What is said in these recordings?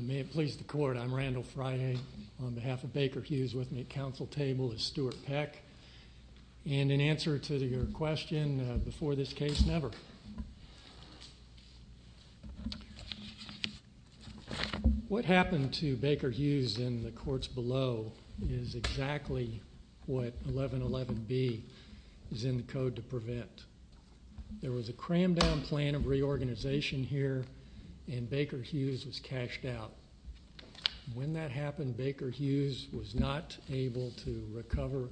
May it please the court, I'm Randall Frye. On behalf of Baker Hughes with me at council table is Stuart Peck. And in answer to your question, before this case, never. What happened to Baker Hughes in the courts below is exactly what 1111B is in the code to prevent. There was a crammed down plan of reorganization here and Baker Hughes was cashed out. When that happened, Baker Hughes was not able to recover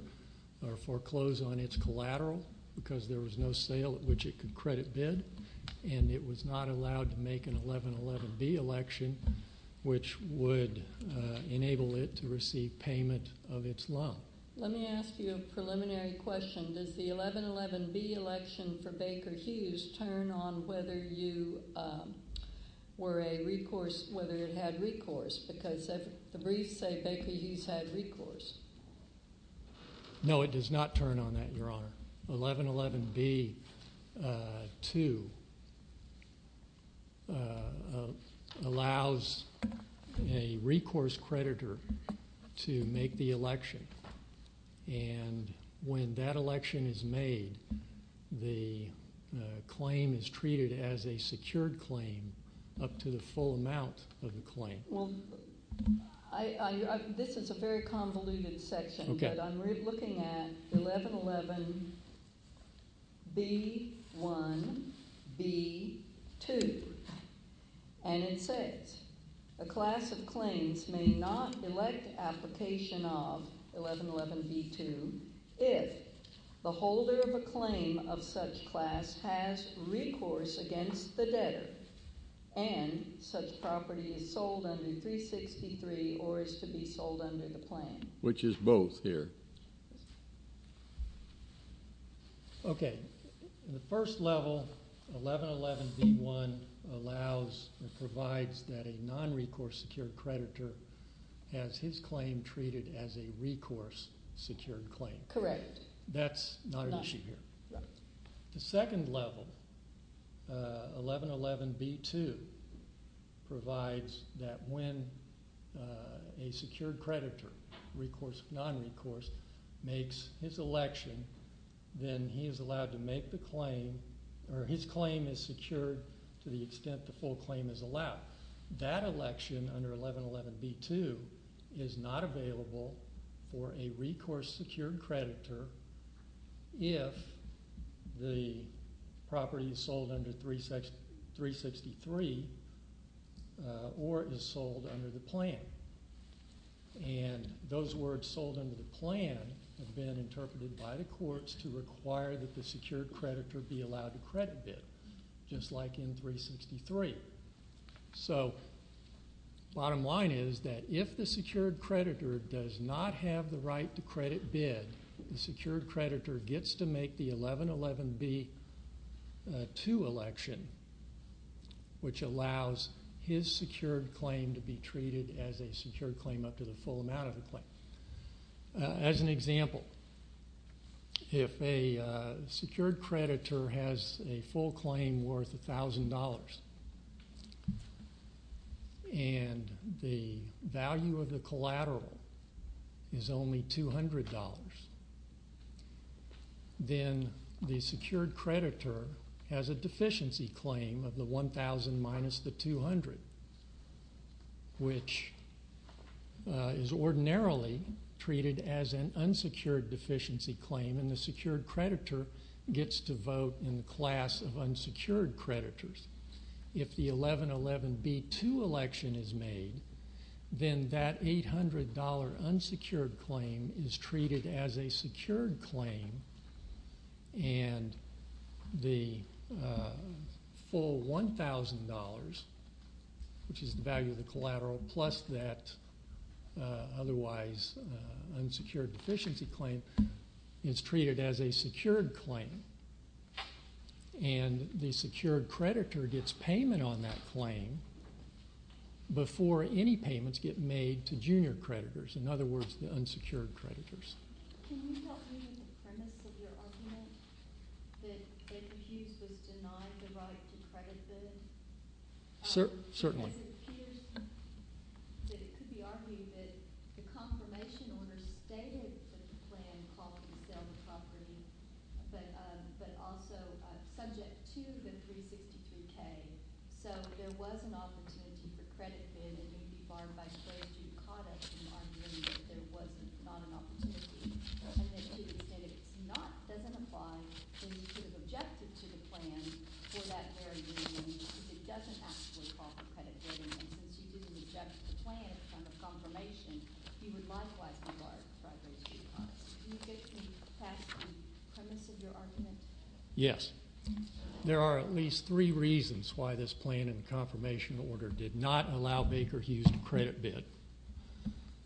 or foreclose on its collateral because there was no sale at which it could credit bid and it was not allowed to make an 1111B election, which would enable it to receive payment of its loan. Let me ask you a preliminary question. Does the 1111B election for Baker Hughes turn on whether you were a recourse, whether it had recourse? Because the briefs say Baker Hughes had recourse. No, it does not turn on that, Your Honor. 1111B, too, allows a recourse creditor to make the election. And when that election is made, the claim is treated as a secured claim up to the full extent that the claim is secured. So the 1111B, which is the 1111B1B2, and it says, a class of claims may not elect application of 1111B2 if the holder of a claim of such class has recourse against the debtor and such property is sold under 363 or is to be Okay. In the first level, 1111B1 allows or provides that a nonrecourse secured creditor has his claim treated as a recourse secured claim. Correct. That's not an issue here. The second level, 1111B2 provides that when a secured creditor, nonrecourse, makes his election, then he is allowed to make the claim or his claim is secured to the extent the full claim is allowed. That election under 1111B2 is not available for a recourse secured creditor if the property is sold under 363 or is sold under the plan. And those words sold under the plan have been interpreted by the courts to require that the secured creditor be allowed a credit bid, just like in 363. So bottom line is that if the secured creditor does not have the right to credit bid, the secured creditor gets to make the 1111B2 election, which allows his secured claim to be treated as a secured claim up to the full amount of the claim. As an example, if a secured creditor has a full claim worth $1,000 and the value of the collateral is only $200, then the secured creditor has a is ordinarily treated as an unsecured deficiency claim and the secured creditor gets to vote in the class of unsecured creditors. If the 1111B2 election is made, then that $800 unsecured claim is treated as a secured claim and the full $1,000, which is the value of the collateral plus that otherwise unsecured deficiency claim, is treated as a secured claim. And the secured creditor gets payment on that claim before any payments get made to junior creditors, in other words, the unsecured creditors. Can you help me with the premise of your argument that Ed Hughes was denied the right to credit bid? Certainly. It appears that it could be argued that the confirmation order stated that the plan called to sell the property, but also subject to the 362K, so there was an opportunity for credit bid and it would be barred by Friday's due conduct in arguing that there was not an opportunity. And that to the extent it doesn't apply, then you could have objected to the plan for that very reason, because it doesn't actually call for credit bidding, and since you didn't object to the plan from the confirmation, you would likewise be barred by Friday's due conduct. Can you get me past the premise of your argument? Yes. There are at least three reasons why this plan and confirmation order did not allow Baker Hughes to credit bid.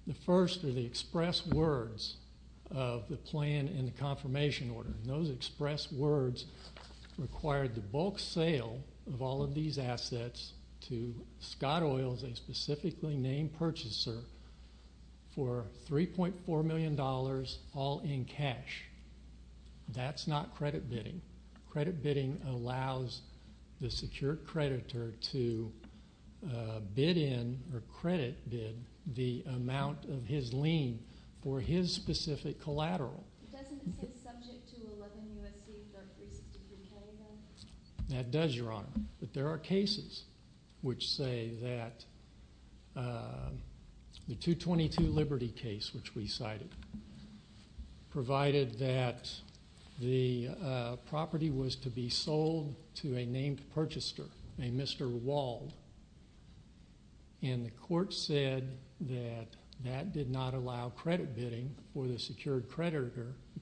The first are the express words of the plan and the confirmation order. Those express words required the bulk sale of all of these assets to Scott Oil, a specifically named purchaser, for $3.4 million all in cash. That's not credit bidding. Credit bidding allows the secured creditor to bid in or credit bid the amount of his lien for his specific collateral. Doesn't it say subject to 11 U.S.C. or 362K? That does, Your Honor. But there are cases which say that the 222 Liberty case, which we cited, provided that the property was to be sold to a named purchaser, a Mr. Wald, and the court said that that did not allow credit bidding for the secured creditor, a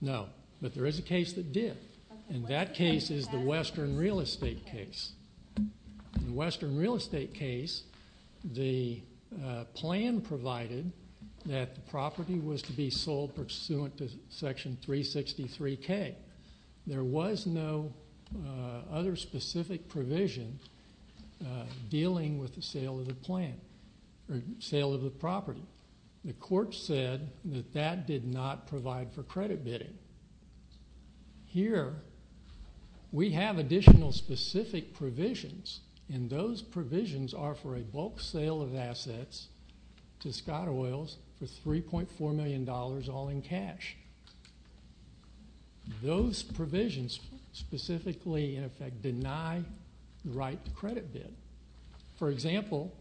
No. But there is a case that did. And that case is the Western Real Estate case. In the Western Real Estate case, the plan provided that the property was to be sold pursuant to Section 363K. There was no other specific provision dealing with the sale of the plan or sale of the property. The court said that that did not provide for credit bidding. Here, we have additional specific provisions, and those provisions are for a bulk sale of assets to Scott Oil for $3.4 million all in cash. Those provisions specifically, in effect, deny the right to credit bid. For example,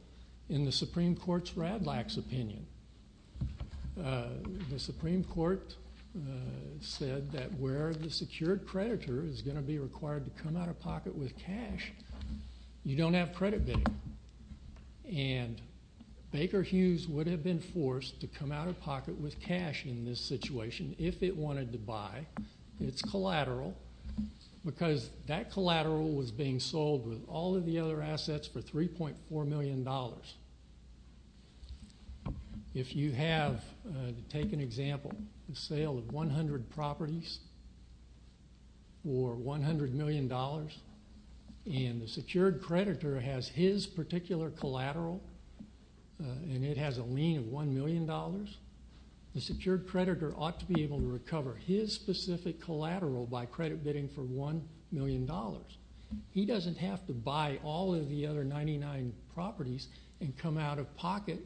in the Supreme Court's Radlax opinion, the Supreme Court said that where the secured creditor is going to be required to come out of pocket with cash, you don't have credit bidding. And Baker Hughes would have been forced to come out of pocket with cash in this situation if it wanted to buy its collateral because that collateral was being sold with all of the other assets for $3.4 million. If you have, to take an example, a sale of 100 properties for $100 million, and the secured creditor has his particular collateral, and it has a lien of $1 million, the secured creditor ought to be able to recover his specific collateral by credit bidding for $1 million. He doesn't have to buy all of the other 99 properties and come out of pocket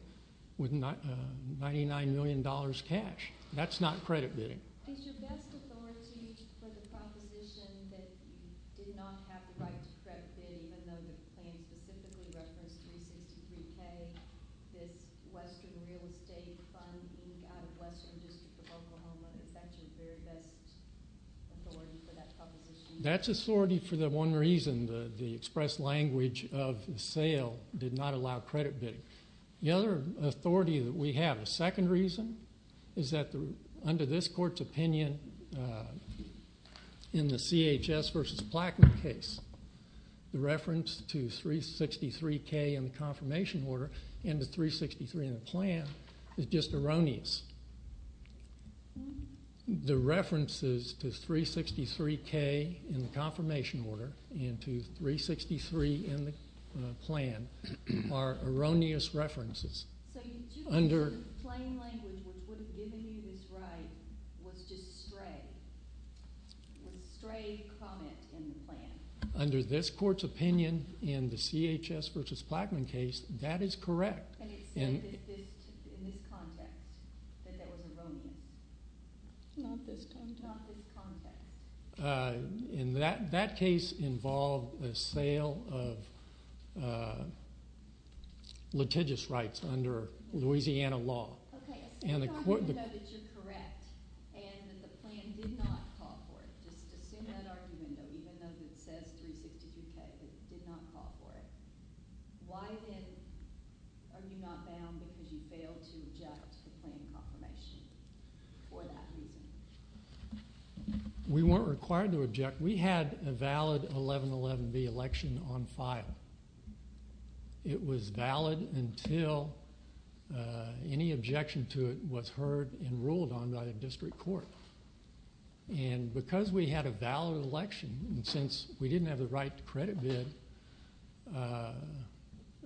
with $99 million cash. That's not credit bidding. Is your best authority for the proposition that you did not have the right to credit bidding, even though the plan specifically referenced 363K, this Western real estate fund out of Western District of Oklahoma? Is that your very best authority for that proposition? That's authority for the one reason, the express language of the sale did not allow credit is that under this court's opinion in the CHS versus Plattman case, the reference to 363K in the confirmation order and to 363 in the plan is just erroneous. The references to 363K in the confirmation order and to 363 in the plan are erroneous references. So the plain language which would have given you this right was just stray, was a stray comment in the plan? Under this court's opinion in the CHS versus Plattman case, that is correct. And it said that this, in this context, that that was erroneous? Not this context. In that case involved the sale of litigious rights under Louisiana law. Okay, if you know that you're correct and that the plan did not call for it, just assume that argument, even though it says 363K, it did not call for it, why then are you not bound because you failed to object to the plan confirmation for that reason? We weren't required to object. We had a valid 1111B election on file. It was valid until any objection to it was heard and ruled on by the district court. And because we had a valid election and since we didn't have the right to credit bid,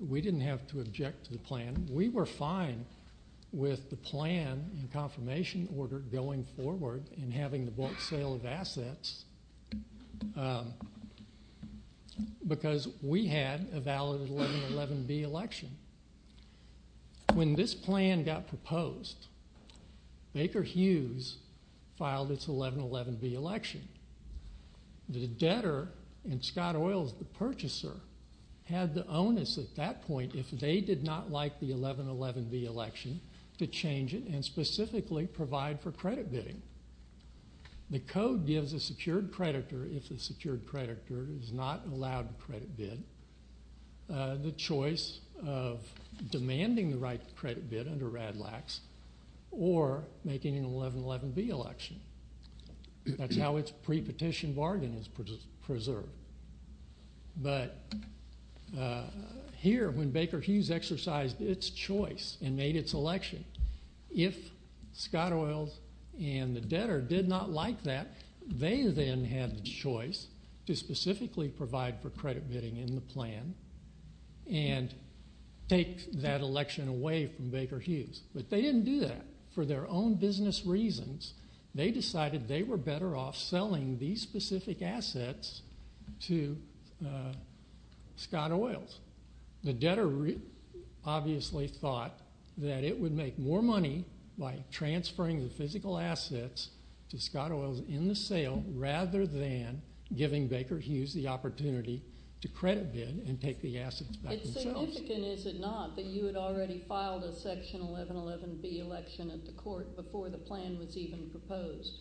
we didn't have to object to the plan. We were fine with the plan and confirmation order going forward and having the bulk sale of assets because we had a valid 1111B election. When this plan got proposed, Baker Hughes filed its 1111B election. The debtor, and Scott Oils, the purchaser, had the onus at that point, if they did not like the 1111B election, to change it and specifically provide for credit bidding. The code gives a secured creditor, if the secured creditor is not allowed a credit bid, the choice of demanding the right to credit bid under RADLAX or making an 1111B election. That's how its pre-petition bargain is preserved. But here, when Baker Hughes exercised its choice and made its election, if Scott Oils and the debtor did not like that, they then had the choice to specifically provide for credit bidding in the plan and take that election away from Baker Hughes. But they didn't do that. For their own business reasons, they decided they were better off selling these specific assets to Scott Oils. The debtor obviously thought that it would make more money by transferring the physical assets to Scott Oils in the sale rather than giving Baker Hughes the opportunity to credit bid and take the assets back themselves. It's significant, is it not, that you had already filed a section 1111B election at the court before the plan was even proposed?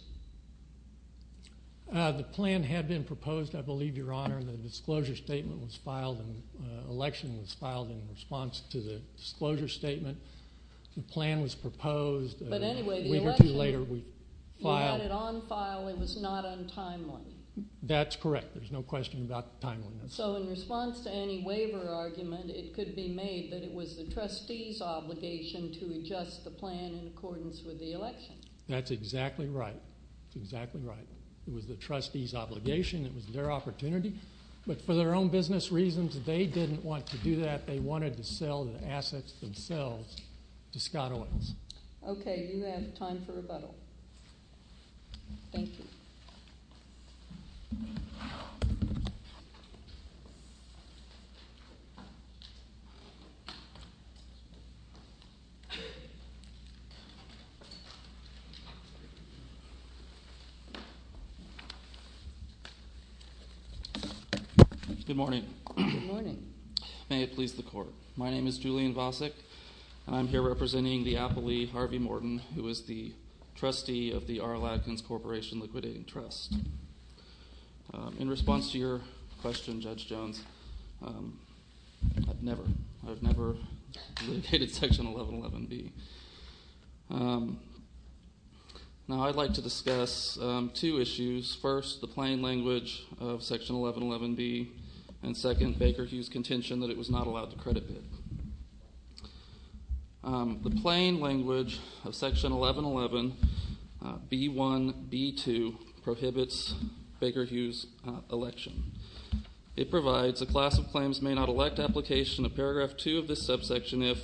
The plan had been proposed, I believe, Your Honor. The disclosure statement was filed and the election was filed in response to the disclosure statement. The plan was proposed. But anyway, the election, you had it on file. It was not untimely. So in response to any waiver argument, it could be made that it was the trustee's obligation to adjust the plan in accordance with the election. That's exactly right. It was the trustee's obligation. It was their opportunity. But for their own business reasons, they didn't want to do that. They wanted to sell the assets themselves to Scott Oils. Okay, you have time for rebuttal. Thank you. Good morning. May it please the Court. My name is Julian Vosick, and I'm here representing the appellee, Harvey Morton, who is the trustee of the R.L. Atkins Corporation Liquidating Trust. In response to your question, Judge Jones, I've never litigated Section 1111B. Now I'd like to discuss two issues. First, the plain language of Section 1111B, and second, Baker Hughes' contention that it was not allowed to credit bid. The plain language of Section 1111B1B2 prohibits Baker Hughes' election. It provides a class of claims may not elect application of Paragraph 2 of this subsection if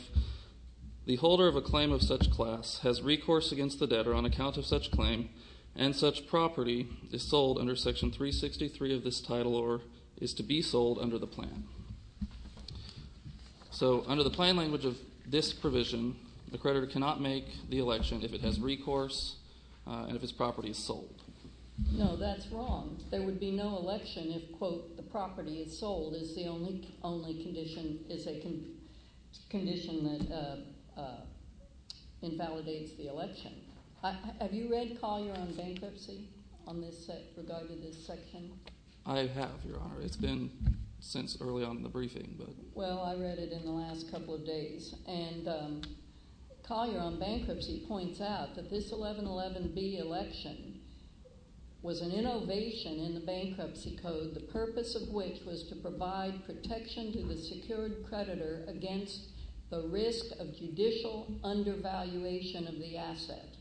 the holder of a claim of such class has recourse against the debtor on account of such claim and such property is sold under Section 363 of this title or is to be sold under the plan. So under the plain language of this provision, the creditor cannot make the election if it has recourse and if its property is sold. No, that's wrong. There would be no election if, quote, the property is sold is the only condition that invalidates the election. Have you read Collier on bankruptcy on this regard to this section? I have, Your Honor. It's been since early on in the briefing. Well, I read it in the last couple of days. And Collier on bankruptcy points out that this 1111B election was an innovation in the bankruptcy code, the purpose of which was to provide protection to the secured creditor against the risk of judicial undervaluation of the asset.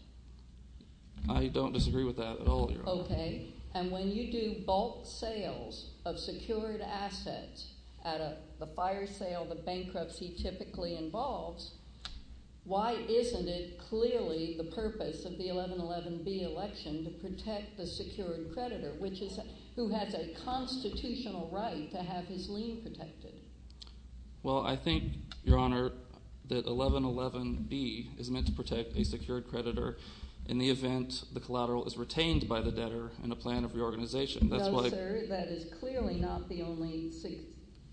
I don't disagree with that at all, Your Honor. Okay. And when you do bulk sales of secured assets at the fire sale the bankruptcy typically involves, why isn't it clearly the purpose of the 1111B election to protect the secured creditor, which is who has a constitutional right to have his lien protected? Well, I think, Your Honor, that 1111B is meant to protect a secured creditor in the event the collateral is retained by the debtor in a plan of reorganization. No, sir. That is clearly not the only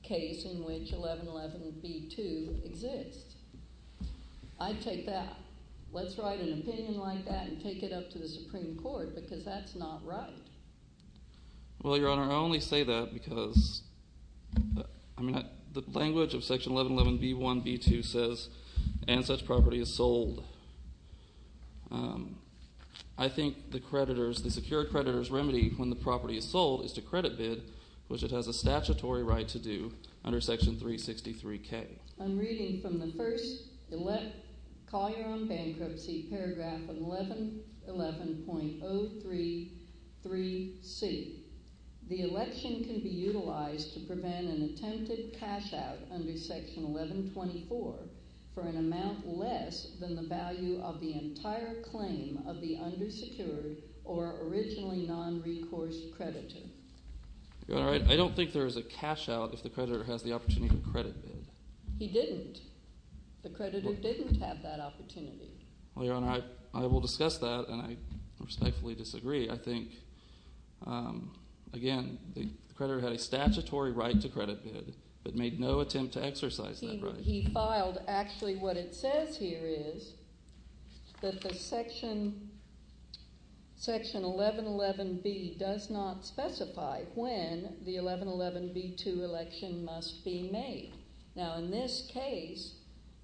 case in which 1111B2 exists. I take that. Let's write an opinion like that and take it up to the Supreme Court because that's not right. Well, Your Honor, I only say that because the language of Section 1111B1B2 says and such property is sold. I think the creditor's, the secured creditor's remedy when the property is sold is to credit bid, which it has a statutory right to do under Section 363K. I'm reading from the first call your own bankruptcy paragraph of 1111.033C. The election can be utilized to prevent an attempted cashout under Section 1124 for an amount less than the value of the entire claim of the undersecured or originally nonrecourse creditor. Your Honor, I don't think there is a cashout if the creditor has the opportunity to credit bid. He didn't. The creditor didn't have that opportunity. Well, Your Honor, I will discuss that, and I respectfully disagree. I think, again, the creditor had a statutory right to credit bid but made no attempt to exercise that right. He filed actually what it says here is that the Section 1111B does not specify when the 1111B2 election must be made. Now, in this case,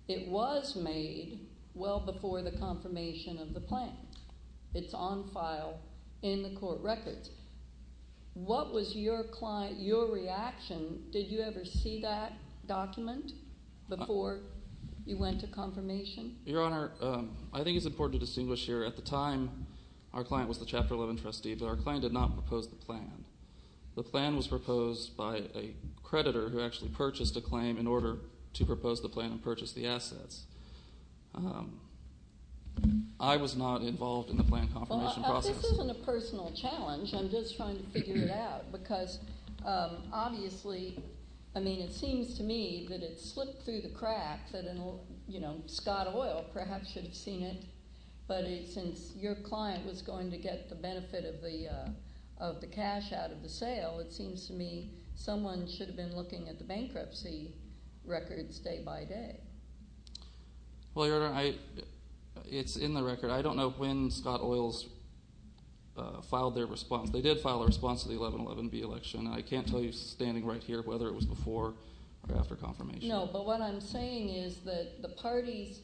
it was made well before the confirmation of the plan. It's on file in the court records. What was your client, your reaction? Did you ever see that document before you went to confirmation? Your Honor, I think it's important to distinguish here. At the time, our client was the Chapter 11 trustee, but our client did not propose the plan. The plan was proposed by a creditor who actually purchased a claim in order to propose the plan and purchase the assets. I was not involved in the plan confirmation process. This isn't a personal challenge. I'm just trying to figure it out because, obviously, I mean it seems to me that it slipped through the crack that Scott Oil perhaps should have seen it. But since your client was going to get the benefit of the cash out of the sale, it seems to me someone should have been looking at the bankruptcy records day by day. Well, Your Honor, it's in the record. I don't know when Scott Oil filed their response. They did file a response to the 1111B election. I can't tell you standing right here whether it was before or after confirmation. No, but what I'm saying is that the parties,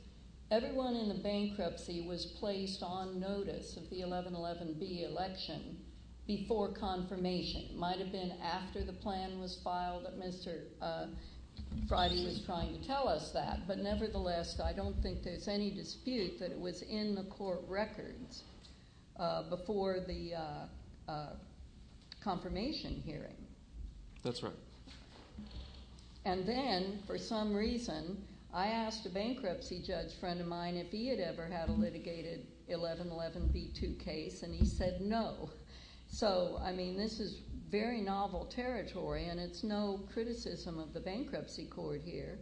everyone in the bankruptcy was placed on notice of the 1111B election before confirmation. It might have been after the plan was filed that Mr. Friday was trying to tell us that. But nevertheless, I don't think there's any dispute that it was in the court records before the confirmation hearing. That's right. And then, for some reason, I asked a bankruptcy judge friend of mine if he had ever had a litigated 1111B2 case, and he said no. So, I mean, this is very novel territory, and it's no criticism of the bankruptcy court here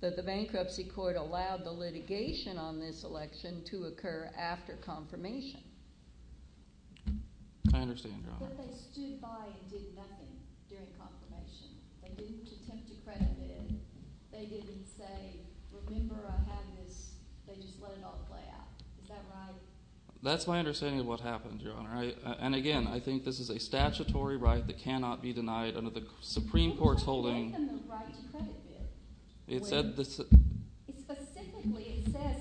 that the bankruptcy court allowed the litigation on this election to occur after confirmation. I understand, Your Honor. But they stood by and did nothing during confirmation. They didn't attempt to credit it. They didn't say, remember I had this. They just let it all play out. Is that right? That's my understanding of what happened, Your Honor. And, again, I think this is a statutory right that cannot be denied under the Supreme Court's holding. It says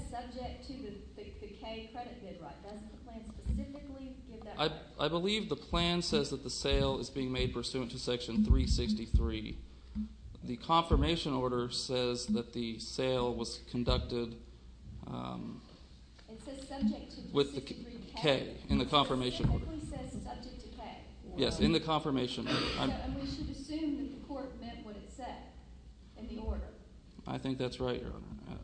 subject to the K credit bid right. Doesn't the plan specifically give that right? I believe the plan says that the sale is being made pursuant to Section 363. The confirmation order says that the sale was conducted with the K in the confirmation plan. Yes, in the confirmation plan. And we should assume that the court meant what it said in the order. I think that's right, Your Honor.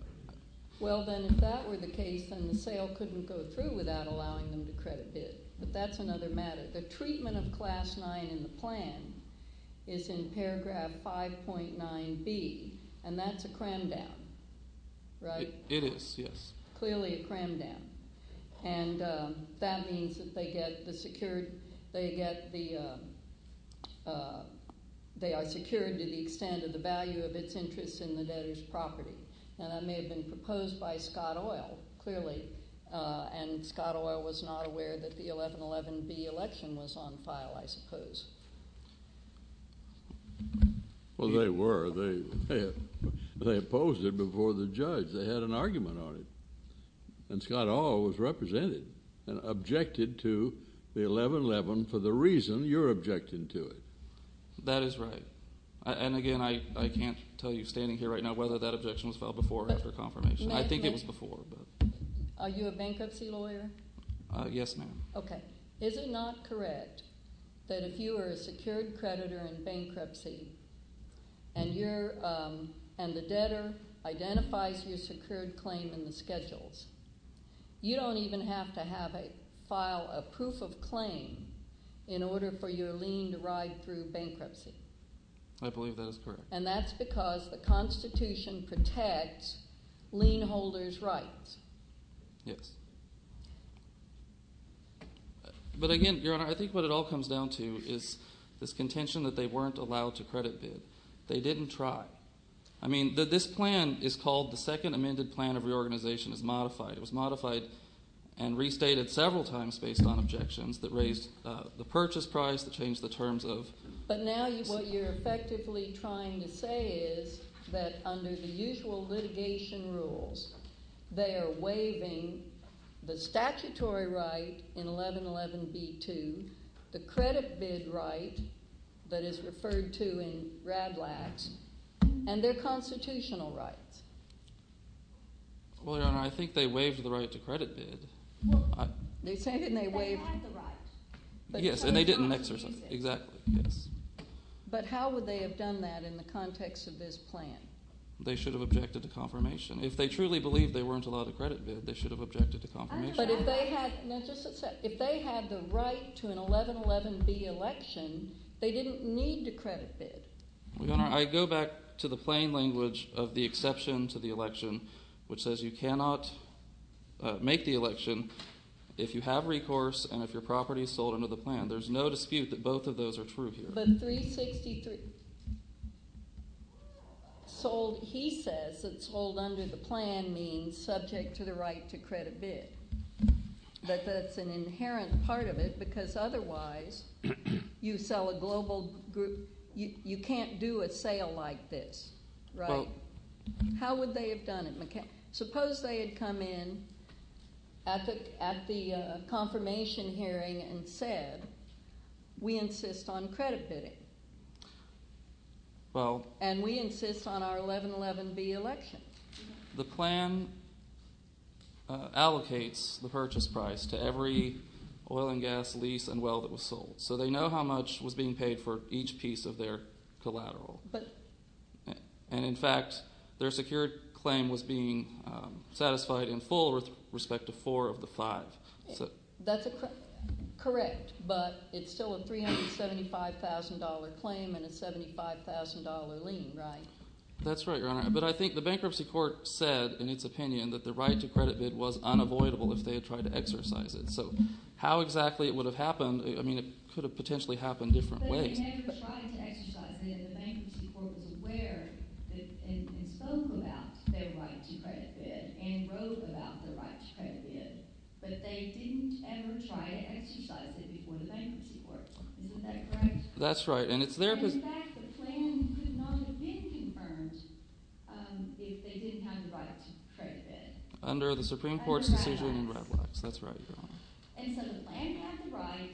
Well, then, if that were the case, then the sale couldn't go through without allowing them to credit bid. But that's another matter. The treatment of Class 9 in the plan is in paragraph 5.9B, and that's a cram down, right? It is, yes. Clearly a cram down. And that means that they are secured to the extent of the value of its interest in the debtor's property. And that may have been proposed by Scott Oil, clearly, and Scott Oil was not aware that the 1111B election was on file, I suppose. Well, they were. They opposed it before the judge. They had an argument on it. And Scott Oil was represented and objected to the 1111 for the reason you're objecting to it. That is right. And, again, I can't tell you standing here right now whether that objection was filed before or after confirmation. I think it was before. Are you a bankruptcy lawyer? Yes, ma'am. Okay. Is it not correct that if you are a secured creditor in bankruptcy and the debtor identifies your secured claim in the schedules, you don't even have to have a file, a proof of claim, in order for your lien to ride through bankruptcy? I believe that is correct. And that's because the Constitution protects lien holders' rights. Yes. But, again, Your Honor, I think what it all comes down to is this contention that they weren't allowed to credit bid. They didn't try. I mean this plan is called the Second Amended Plan of Reorganization. It's modified. It was modified and restated several times based on objections that raised the purchase price, that changed the terms of— But now what you're effectively trying to say is that under the usual litigation rules, they are waiving the statutory right in 1111B2, the credit bid right that is referred to in RABLAX, and their constitutional rights. Well, Your Honor, I think they waived the right to credit bid. They said they didn't waive— They had the right. Yes, and they didn't exercise it. Exactly, yes. But how would they have done that in the context of this plan? They should have objected to confirmation. If they truly believed they weren't allowed to credit bid, they should have objected to confirmation. But if they had—just a second. If they had the right to an 1111B election, they didn't need to credit bid. Your Honor, I go back to the plain language of the exception to the election, which says you cannot make the election if you have recourse and if your property is sold under the plan. There's no dispute that both of those are true here. But 363 sold—he says that sold under the plan means subject to the right to credit bid. But that's an inherent part of it because otherwise you sell a global—you can't do a sale like this, right? How would they have done it? Suppose they had come in at the confirmation hearing and said we insist on credit bidding. And we insist on our 1111B election. The plan allocates the purchase price to every oil and gas lease and well that was sold. So they know how much was being paid for each piece of their collateral. And, in fact, their secured claim was being satisfied in full with respect to four of the five. That's correct, but it's still a $375,000 claim and a $75,000 lien, right? That's right, Your Honor. But I think the bankruptcy court said in its opinion that the right to credit bid was unavoidable if they had tried to exercise it. So how exactly it would have happened, I mean it could have potentially happened different ways. They never tried to exercise it. The bankruptcy court was aware and spoke about their right to credit bid and wrote about their right to credit bid. But they didn't ever try to exercise it before the bankruptcy court. Isn't that correct? That's right. And, in fact, the plan could not have been confirmed if they didn't have the right to credit bid. Under the Supreme Court's decision in Red Locks. That's right, Your Honor. And so the plan had the right,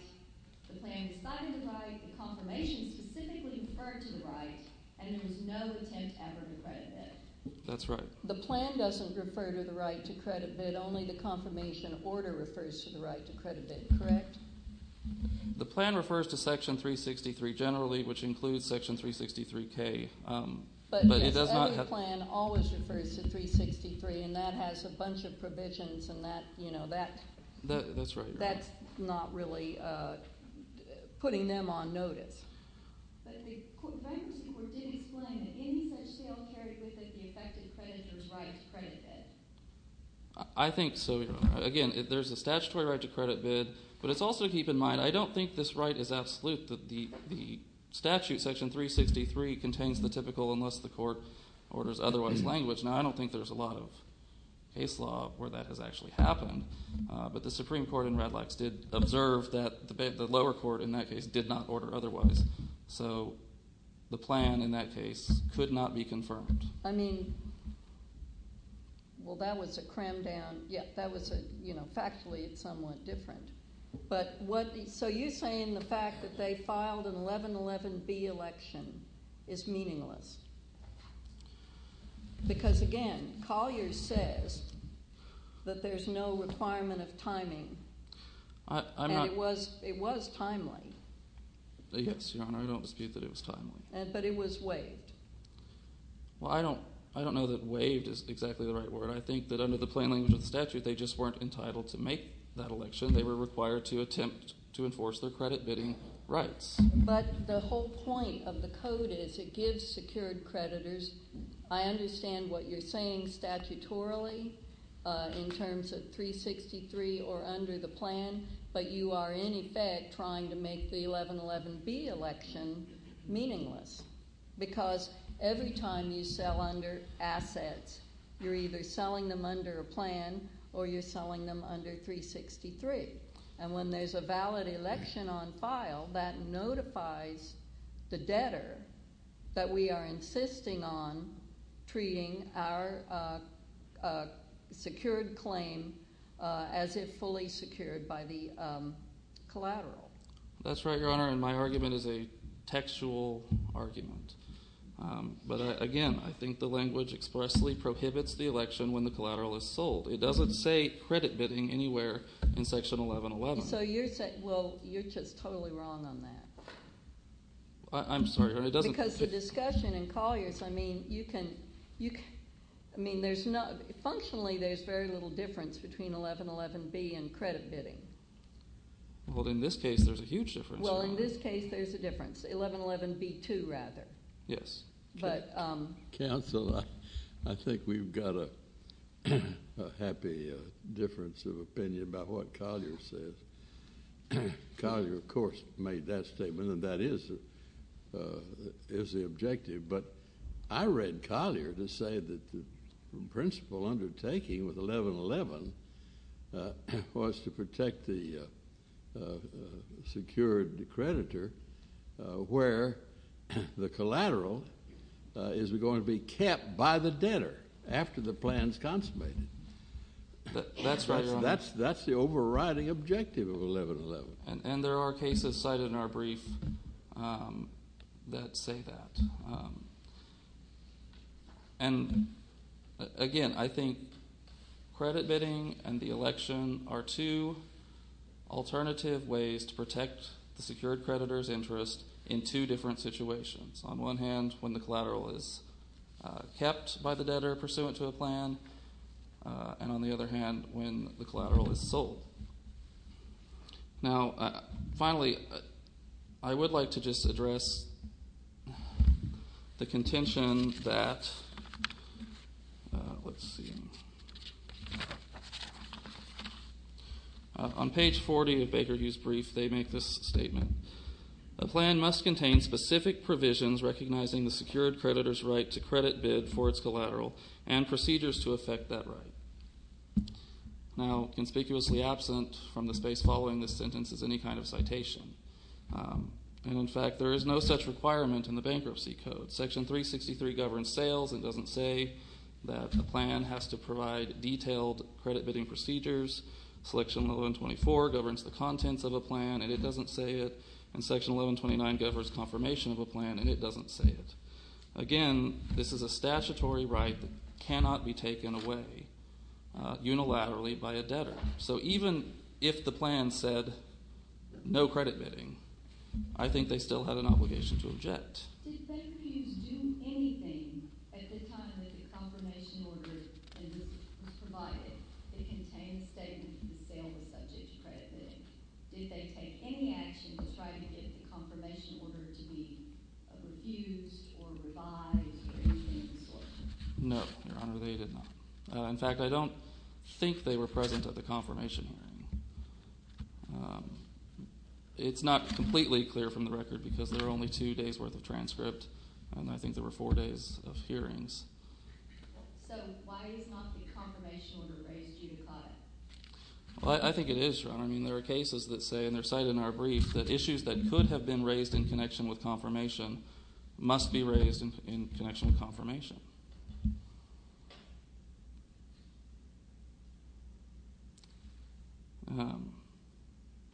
the plan decided the right, the confirmation specifically referred to the right, and there was no attempt ever to credit bid. That's right. The plan doesn't refer to the right to credit bid. Only the confirmation order refers to the right to credit bid, correct? The plan refers to Section 363 generally, which includes Section 363K. But, yes, every plan always refers to 363, and that has a bunch of provisions and that, you know, that. That's right, Your Honor. That's not really putting them on notice. But the bankruptcy court did explain that any such sale carried with it the affected creditor's right to credit bid. I think so, Your Honor. Again, there's a statutory right to credit bid, but it's also to keep in mind I don't think this right is absolute, that the statute, Section 363, contains the typical unless the court orders otherwise language. Now I don't think there's a lot of case law where that has actually happened. But the Supreme Court in Red Lax did observe that the lower court in that case did not order otherwise. So the plan in that case could not be confirmed. I mean, well, that was a cram down. Yeah, that was a – you know, factually it's somewhat different. But what – so you're saying the fact that they filed an 1111B election is meaningless. Because, again, Collier says that there's no requirement of timing. And it was timely. Yes, Your Honor. I don't dispute that it was timely. But it was waived. Well, I don't know that waived is exactly the right word. I think that under the plain language of the statute they just weren't entitled to make that election. They were required to attempt to enforce their credit bidding rights. But the whole point of the code is it gives secured creditors. I understand what you're saying statutorily in terms of 363 or under the plan. But you are, in effect, trying to make the 1111B election meaningless. Because every time you sell under assets, you're either selling them under a plan or you're selling them under 363. And when there's a valid election on file, that notifies the debtor that we are insisting on treating our secured claim as if fully secured by the collateral. That's right, Your Honor, and my argument is a textual argument. But, again, I think the language expressly prohibits the election when the collateral is sold. It doesn't say credit bidding anywhere in Section 1111. So you're just totally wrong on that. I'm sorry, Your Honor, it doesn't. Because the discussion in Collier's, I mean, functionally there's very little difference between 1111B and credit bidding. Well, in this case there's a huge difference. Well, in this case there's a difference. 1111B2, rather. Yes. Counsel, I think we've got a happy difference of opinion about what Collier says. Collier, of course, made that statement, and that is the objective. But I read Collier to say that the principal undertaking with 1111 was to protect the secured creditor where the collateral is going to be kept by the debtor after the plan is consummated. That's right, Your Honor. That's the overriding objective of 1111. And there are cases cited in our brief that say that. And, again, I think credit bidding and the election are two alternative ways to protect the secured creditor's interest in two different situations. On one hand, when the collateral is kept by the debtor pursuant to a plan, and on the other hand, when the collateral is sold. Now, finally, I would like to just address the contention that, let's see, on page 40 of Baker Hughes' brief, they make this statement. The plan must contain specific provisions recognizing the secured creditor's right to credit bid for its collateral and procedures to affect that right. Now, conspicuously absent from the space following this sentence is any kind of citation. And, in fact, there is no such requirement in the Bankruptcy Code. Section 363 governs sales. It doesn't say that a plan has to provide detailed credit bidding procedures. Selection 1124 governs the contents of a plan, and it doesn't say it. And Section 1129 governs confirmation of a plan, and it doesn't say it. Again, this is a statutory right that cannot be taken away unilaterally by a debtor. So even if the plan said no credit bidding, I think they still have an obligation to object. Did Baker Hughes do anything at the time that the confirmation order was provided that contained a statement that the sale was subject to credit bidding? Did they take any action to try to get the confirmation order to be refused or revised? No, Your Honor, they did not. In fact, I don't think they were present at the confirmation hearing. It's not completely clear from the record because there are only two days' worth of transcript, and I think there were four days of hearings. So why is not the confirmation order raised due to clause? Well, I think it is, Your Honor. I mean there are cases that say, and they're cited in our brief, that issues that could have been raised in connection with confirmation must be raised in connection with confirmation.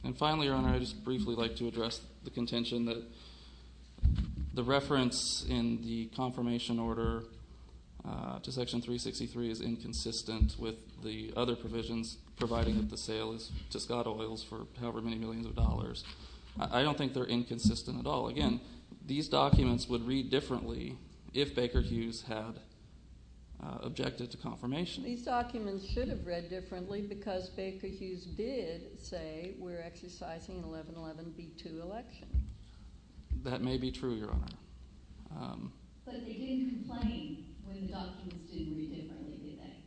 And finally, Your Honor, I'd just briefly like to address the contention that the reference in the confirmation order to Section 363 is inconsistent with the other provisions providing that the sale is to Scott Oils for however many millions of dollars. I don't think they're inconsistent at all. Again, these documents would read differently if Baker Hughes had objected to confirmation. These documents should have read differently because Baker Hughes did say we're exercising an 1111B2 election. That may be true, Your Honor. But they didn't complain when the documents didn't read differently, did they?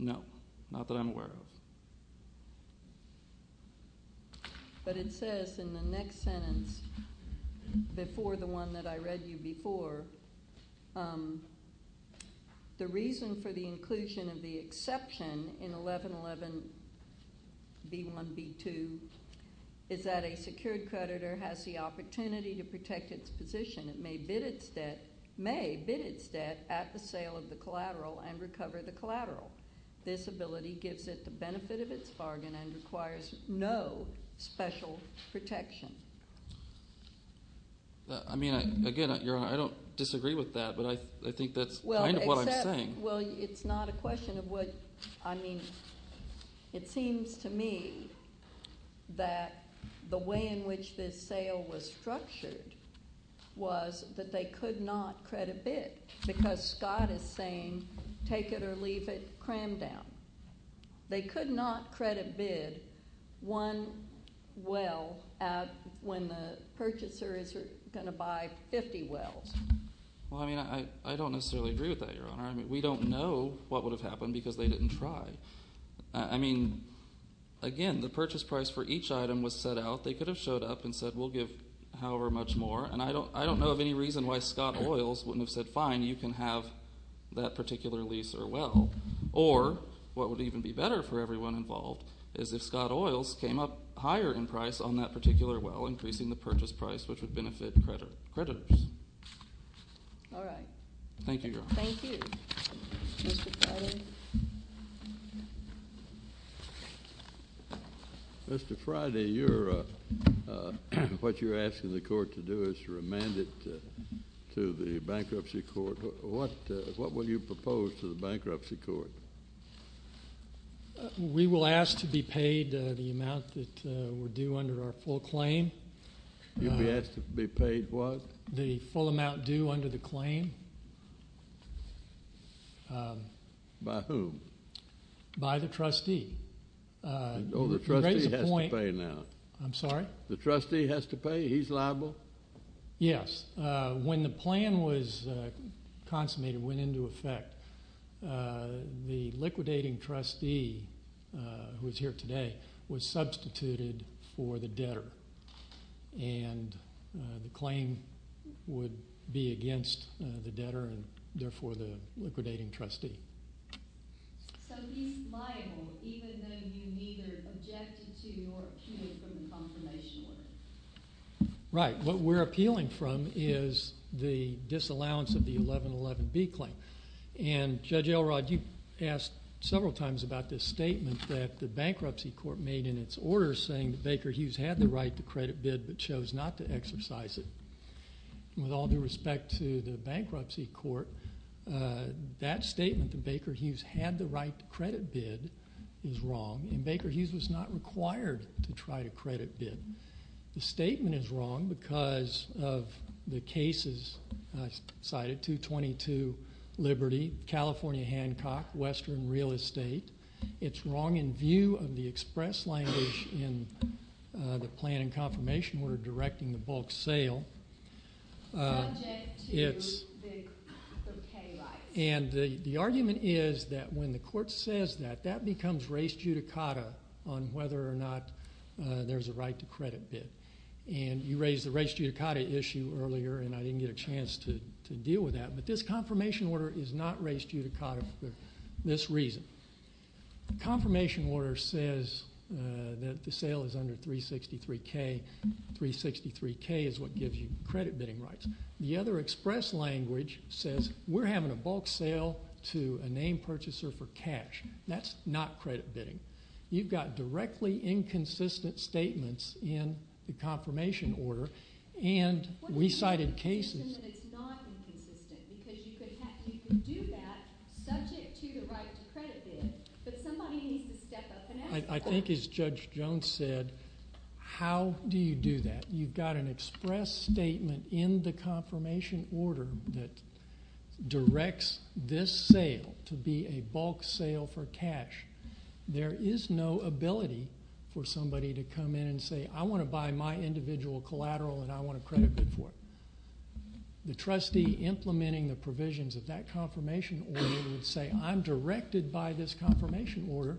No, not that I'm aware of. But it says in the next sentence, before the one that I read you before, the reason for the inclusion of the exception in 1111B1B2 is that a secured creditor has the opportunity to protect its position. It may bid its debt at the sale of the collateral and recover the collateral. This ability gives it the benefit of its bargain and requires no special protection. I mean, again, Your Honor, I don't disagree with that, but I think that's kind of what I'm saying. Well, it's not a question of what – I mean, it seems to me that the way in which this sale was structured was that they could not credit bid because Scott is saying take it or leave it, cram down. They could not credit bid one well when the purchaser is going to buy 50 wells. Well, I mean, I don't necessarily agree with that, Your Honor. I mean, we don't know what would have happened because they didn't try. I mean, again, the purchase price for each item was set out. They could have showed up and said we'll give however much more, and I don't know of any reason why Scott Oils wouldn't have said fine, you can have that particular lease or well. Or what would even be better for everyone involved is if Scott Oils came up higher in price on that particular well, increasing the purchase price, which would benefit creditors. All right. Thank you, Your Honor. Thank you. Mr. Friday. Mr. Friday, what you're asking the court to do is to remand it to the bankruptcy court. What will you propose to the bankruptcy court? We will ask to be paid the amount that we're due under our full claim. You'll be asked to be paid what? The full amount due under the claim. By whom? By the trustee. Oh, the trustee has to pay now. I'm sorry? The trustee has to pay? He's liable? Yes. When the plan was consummated, went into effect, the liquidating trustee, who is here today, was substituted for the debtor. And the claim would be against the debtor and therefore the liquidating trustee. So he's liable even though you neither objected to or appealed from the confirmation order? Right. What we're appealing from is the disallowance of the 1111B claim. And Judge Elrod, you asked several times about this statement that the bankruptcy court made in its order saying that Baker Hughes had the right to credit bid but chose not to exercise it. With all due respect to the bankruptcy court, that statement that Baker Hughes had the right to credit bid is wrong, and Baker Hughes was not required to try to credit bid. The statement is wrong because of the cases cited, 222 Liberty, California Hancock, Western Real Estate. It's wrong in view of the express language in the plan and confirmation order directing the bulk sale. Subject to the pay rights. And the argument is that when the court says that, that becomes race judicata on whether or not there's a right to credit bid. And you raised the race judicata issue earlier, and I didn't get a chance to deal with that, but this confirmation order is not race judicata for this reason. The confirmation order says that the sale is under 363K. 363K is what gives you credit bidding rights. The other express language says we're having a bulk sale to a name purchaser for cash. That's not credit bidding. You've got directly inconsistent statements in the confirmation order, and we cited cases. It's not inconsistent because you could do that subject to the right to credit bid, but somebody needs to step up and act on it. I think as Judge Jones said, how do you do that? You've got an express statement in the confirmation order that directs this sale to be a bulk sale for cash. There is no ability for somebody to come in and say I want to buy my individual collateral and I want to credit bid for it. The trustee implementing the provisions of that confirmation order would say I'm directed by this confirmation order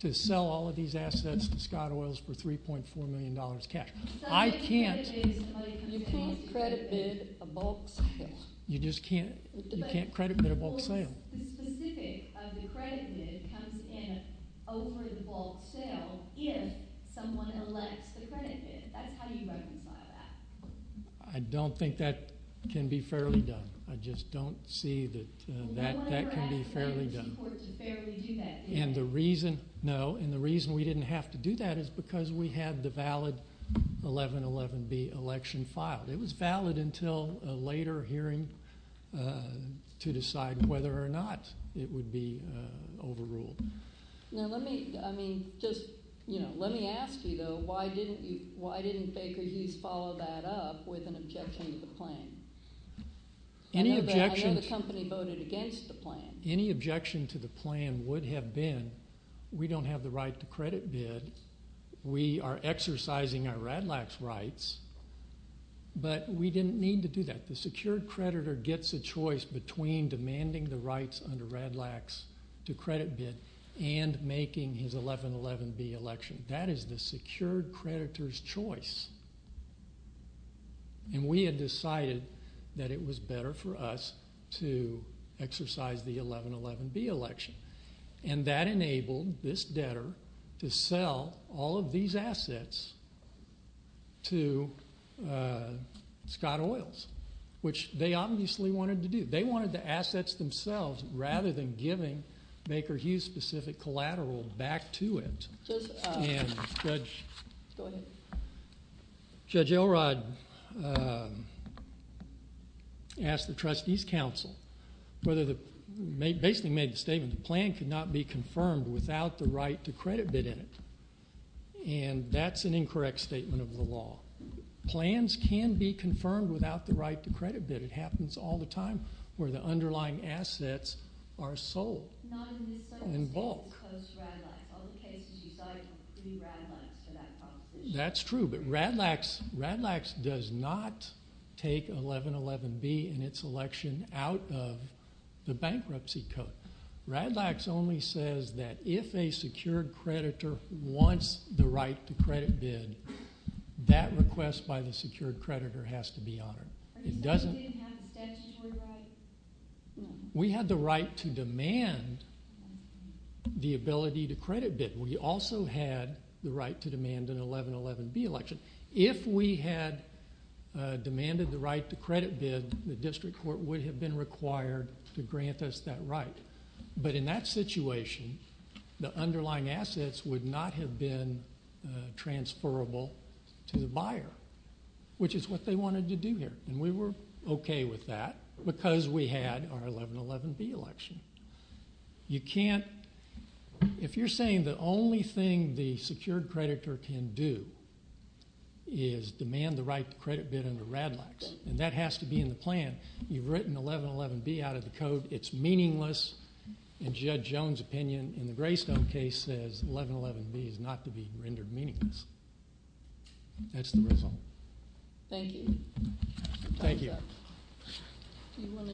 to sell all of these assets to Scott Oils for $3.4 million cash. I can't. You can't credit bid a bulk sale. You just can't. You can't credit bid a bulk sale. The specific of the credit bid comes in over the bulk sale if someone elects the credit bid. That's how you reconcile that. I don't think that can be fairly done. I just don't see that that can be fairly done. The reason we didn't have to do that is because we had the valid 1111B election filed. It was valid until a later hearing to decide whether or not it would be overruled. Let me ask you though, why didn't Baker Hughes follow that up with an objection to the plan? I know the company voted against the plan. Any objection to the plan would have been we don't have the right to credit bid. We are exercising our RADLAX rights, but we didn't need to do that. The secured creditor gets a choice between demanding the rights under RADLAX to credit bid and making his 1111B election. That is the secured creditor's choice. We had decided that it was better for us to exercise the 1111B election. That enabled this debtor to sell all of these assets to Scott Oils, which they obviously wanted to do. rather than giving Baker Hughes' specific collateral back to it. Judge Elrod asked the Trustees Council whether the plan could not be confirmed without the right to credit bid in it. That's an incorrect statement of the law. Plans can be confirmed without the right to credit bid. It happens all the time where the underlying assets are sold in bulk. That's true, but RADLAX does not take 1111B and its election out of the bankruptcy code. RADLAX only says that if a secured creditor wants the right to credit bid, that request by the secured creditor has to be honored. Are you saying we didn't have the statutory right? We had the right to demand the ability to credit bid. We also had the right to demand an 1111B election. If we had demanded the right to credit bid, the district court would have been required to grant us that right. In that situation, the underlying assets would not have been transferable to the buyer, which is what they wanted to do here. We were okay with that because we had our 1111B election. If you're saying the only thing the secured creditor can do is demand the right to credit bid under RADLAX, and that has to be in the plan, you've written 1111B out of the code, it's meaningless, and Judge Jones' opinion in the Greystone case says 1111B is not to be rendered meaningless. That's the result. Thank you. Thank you.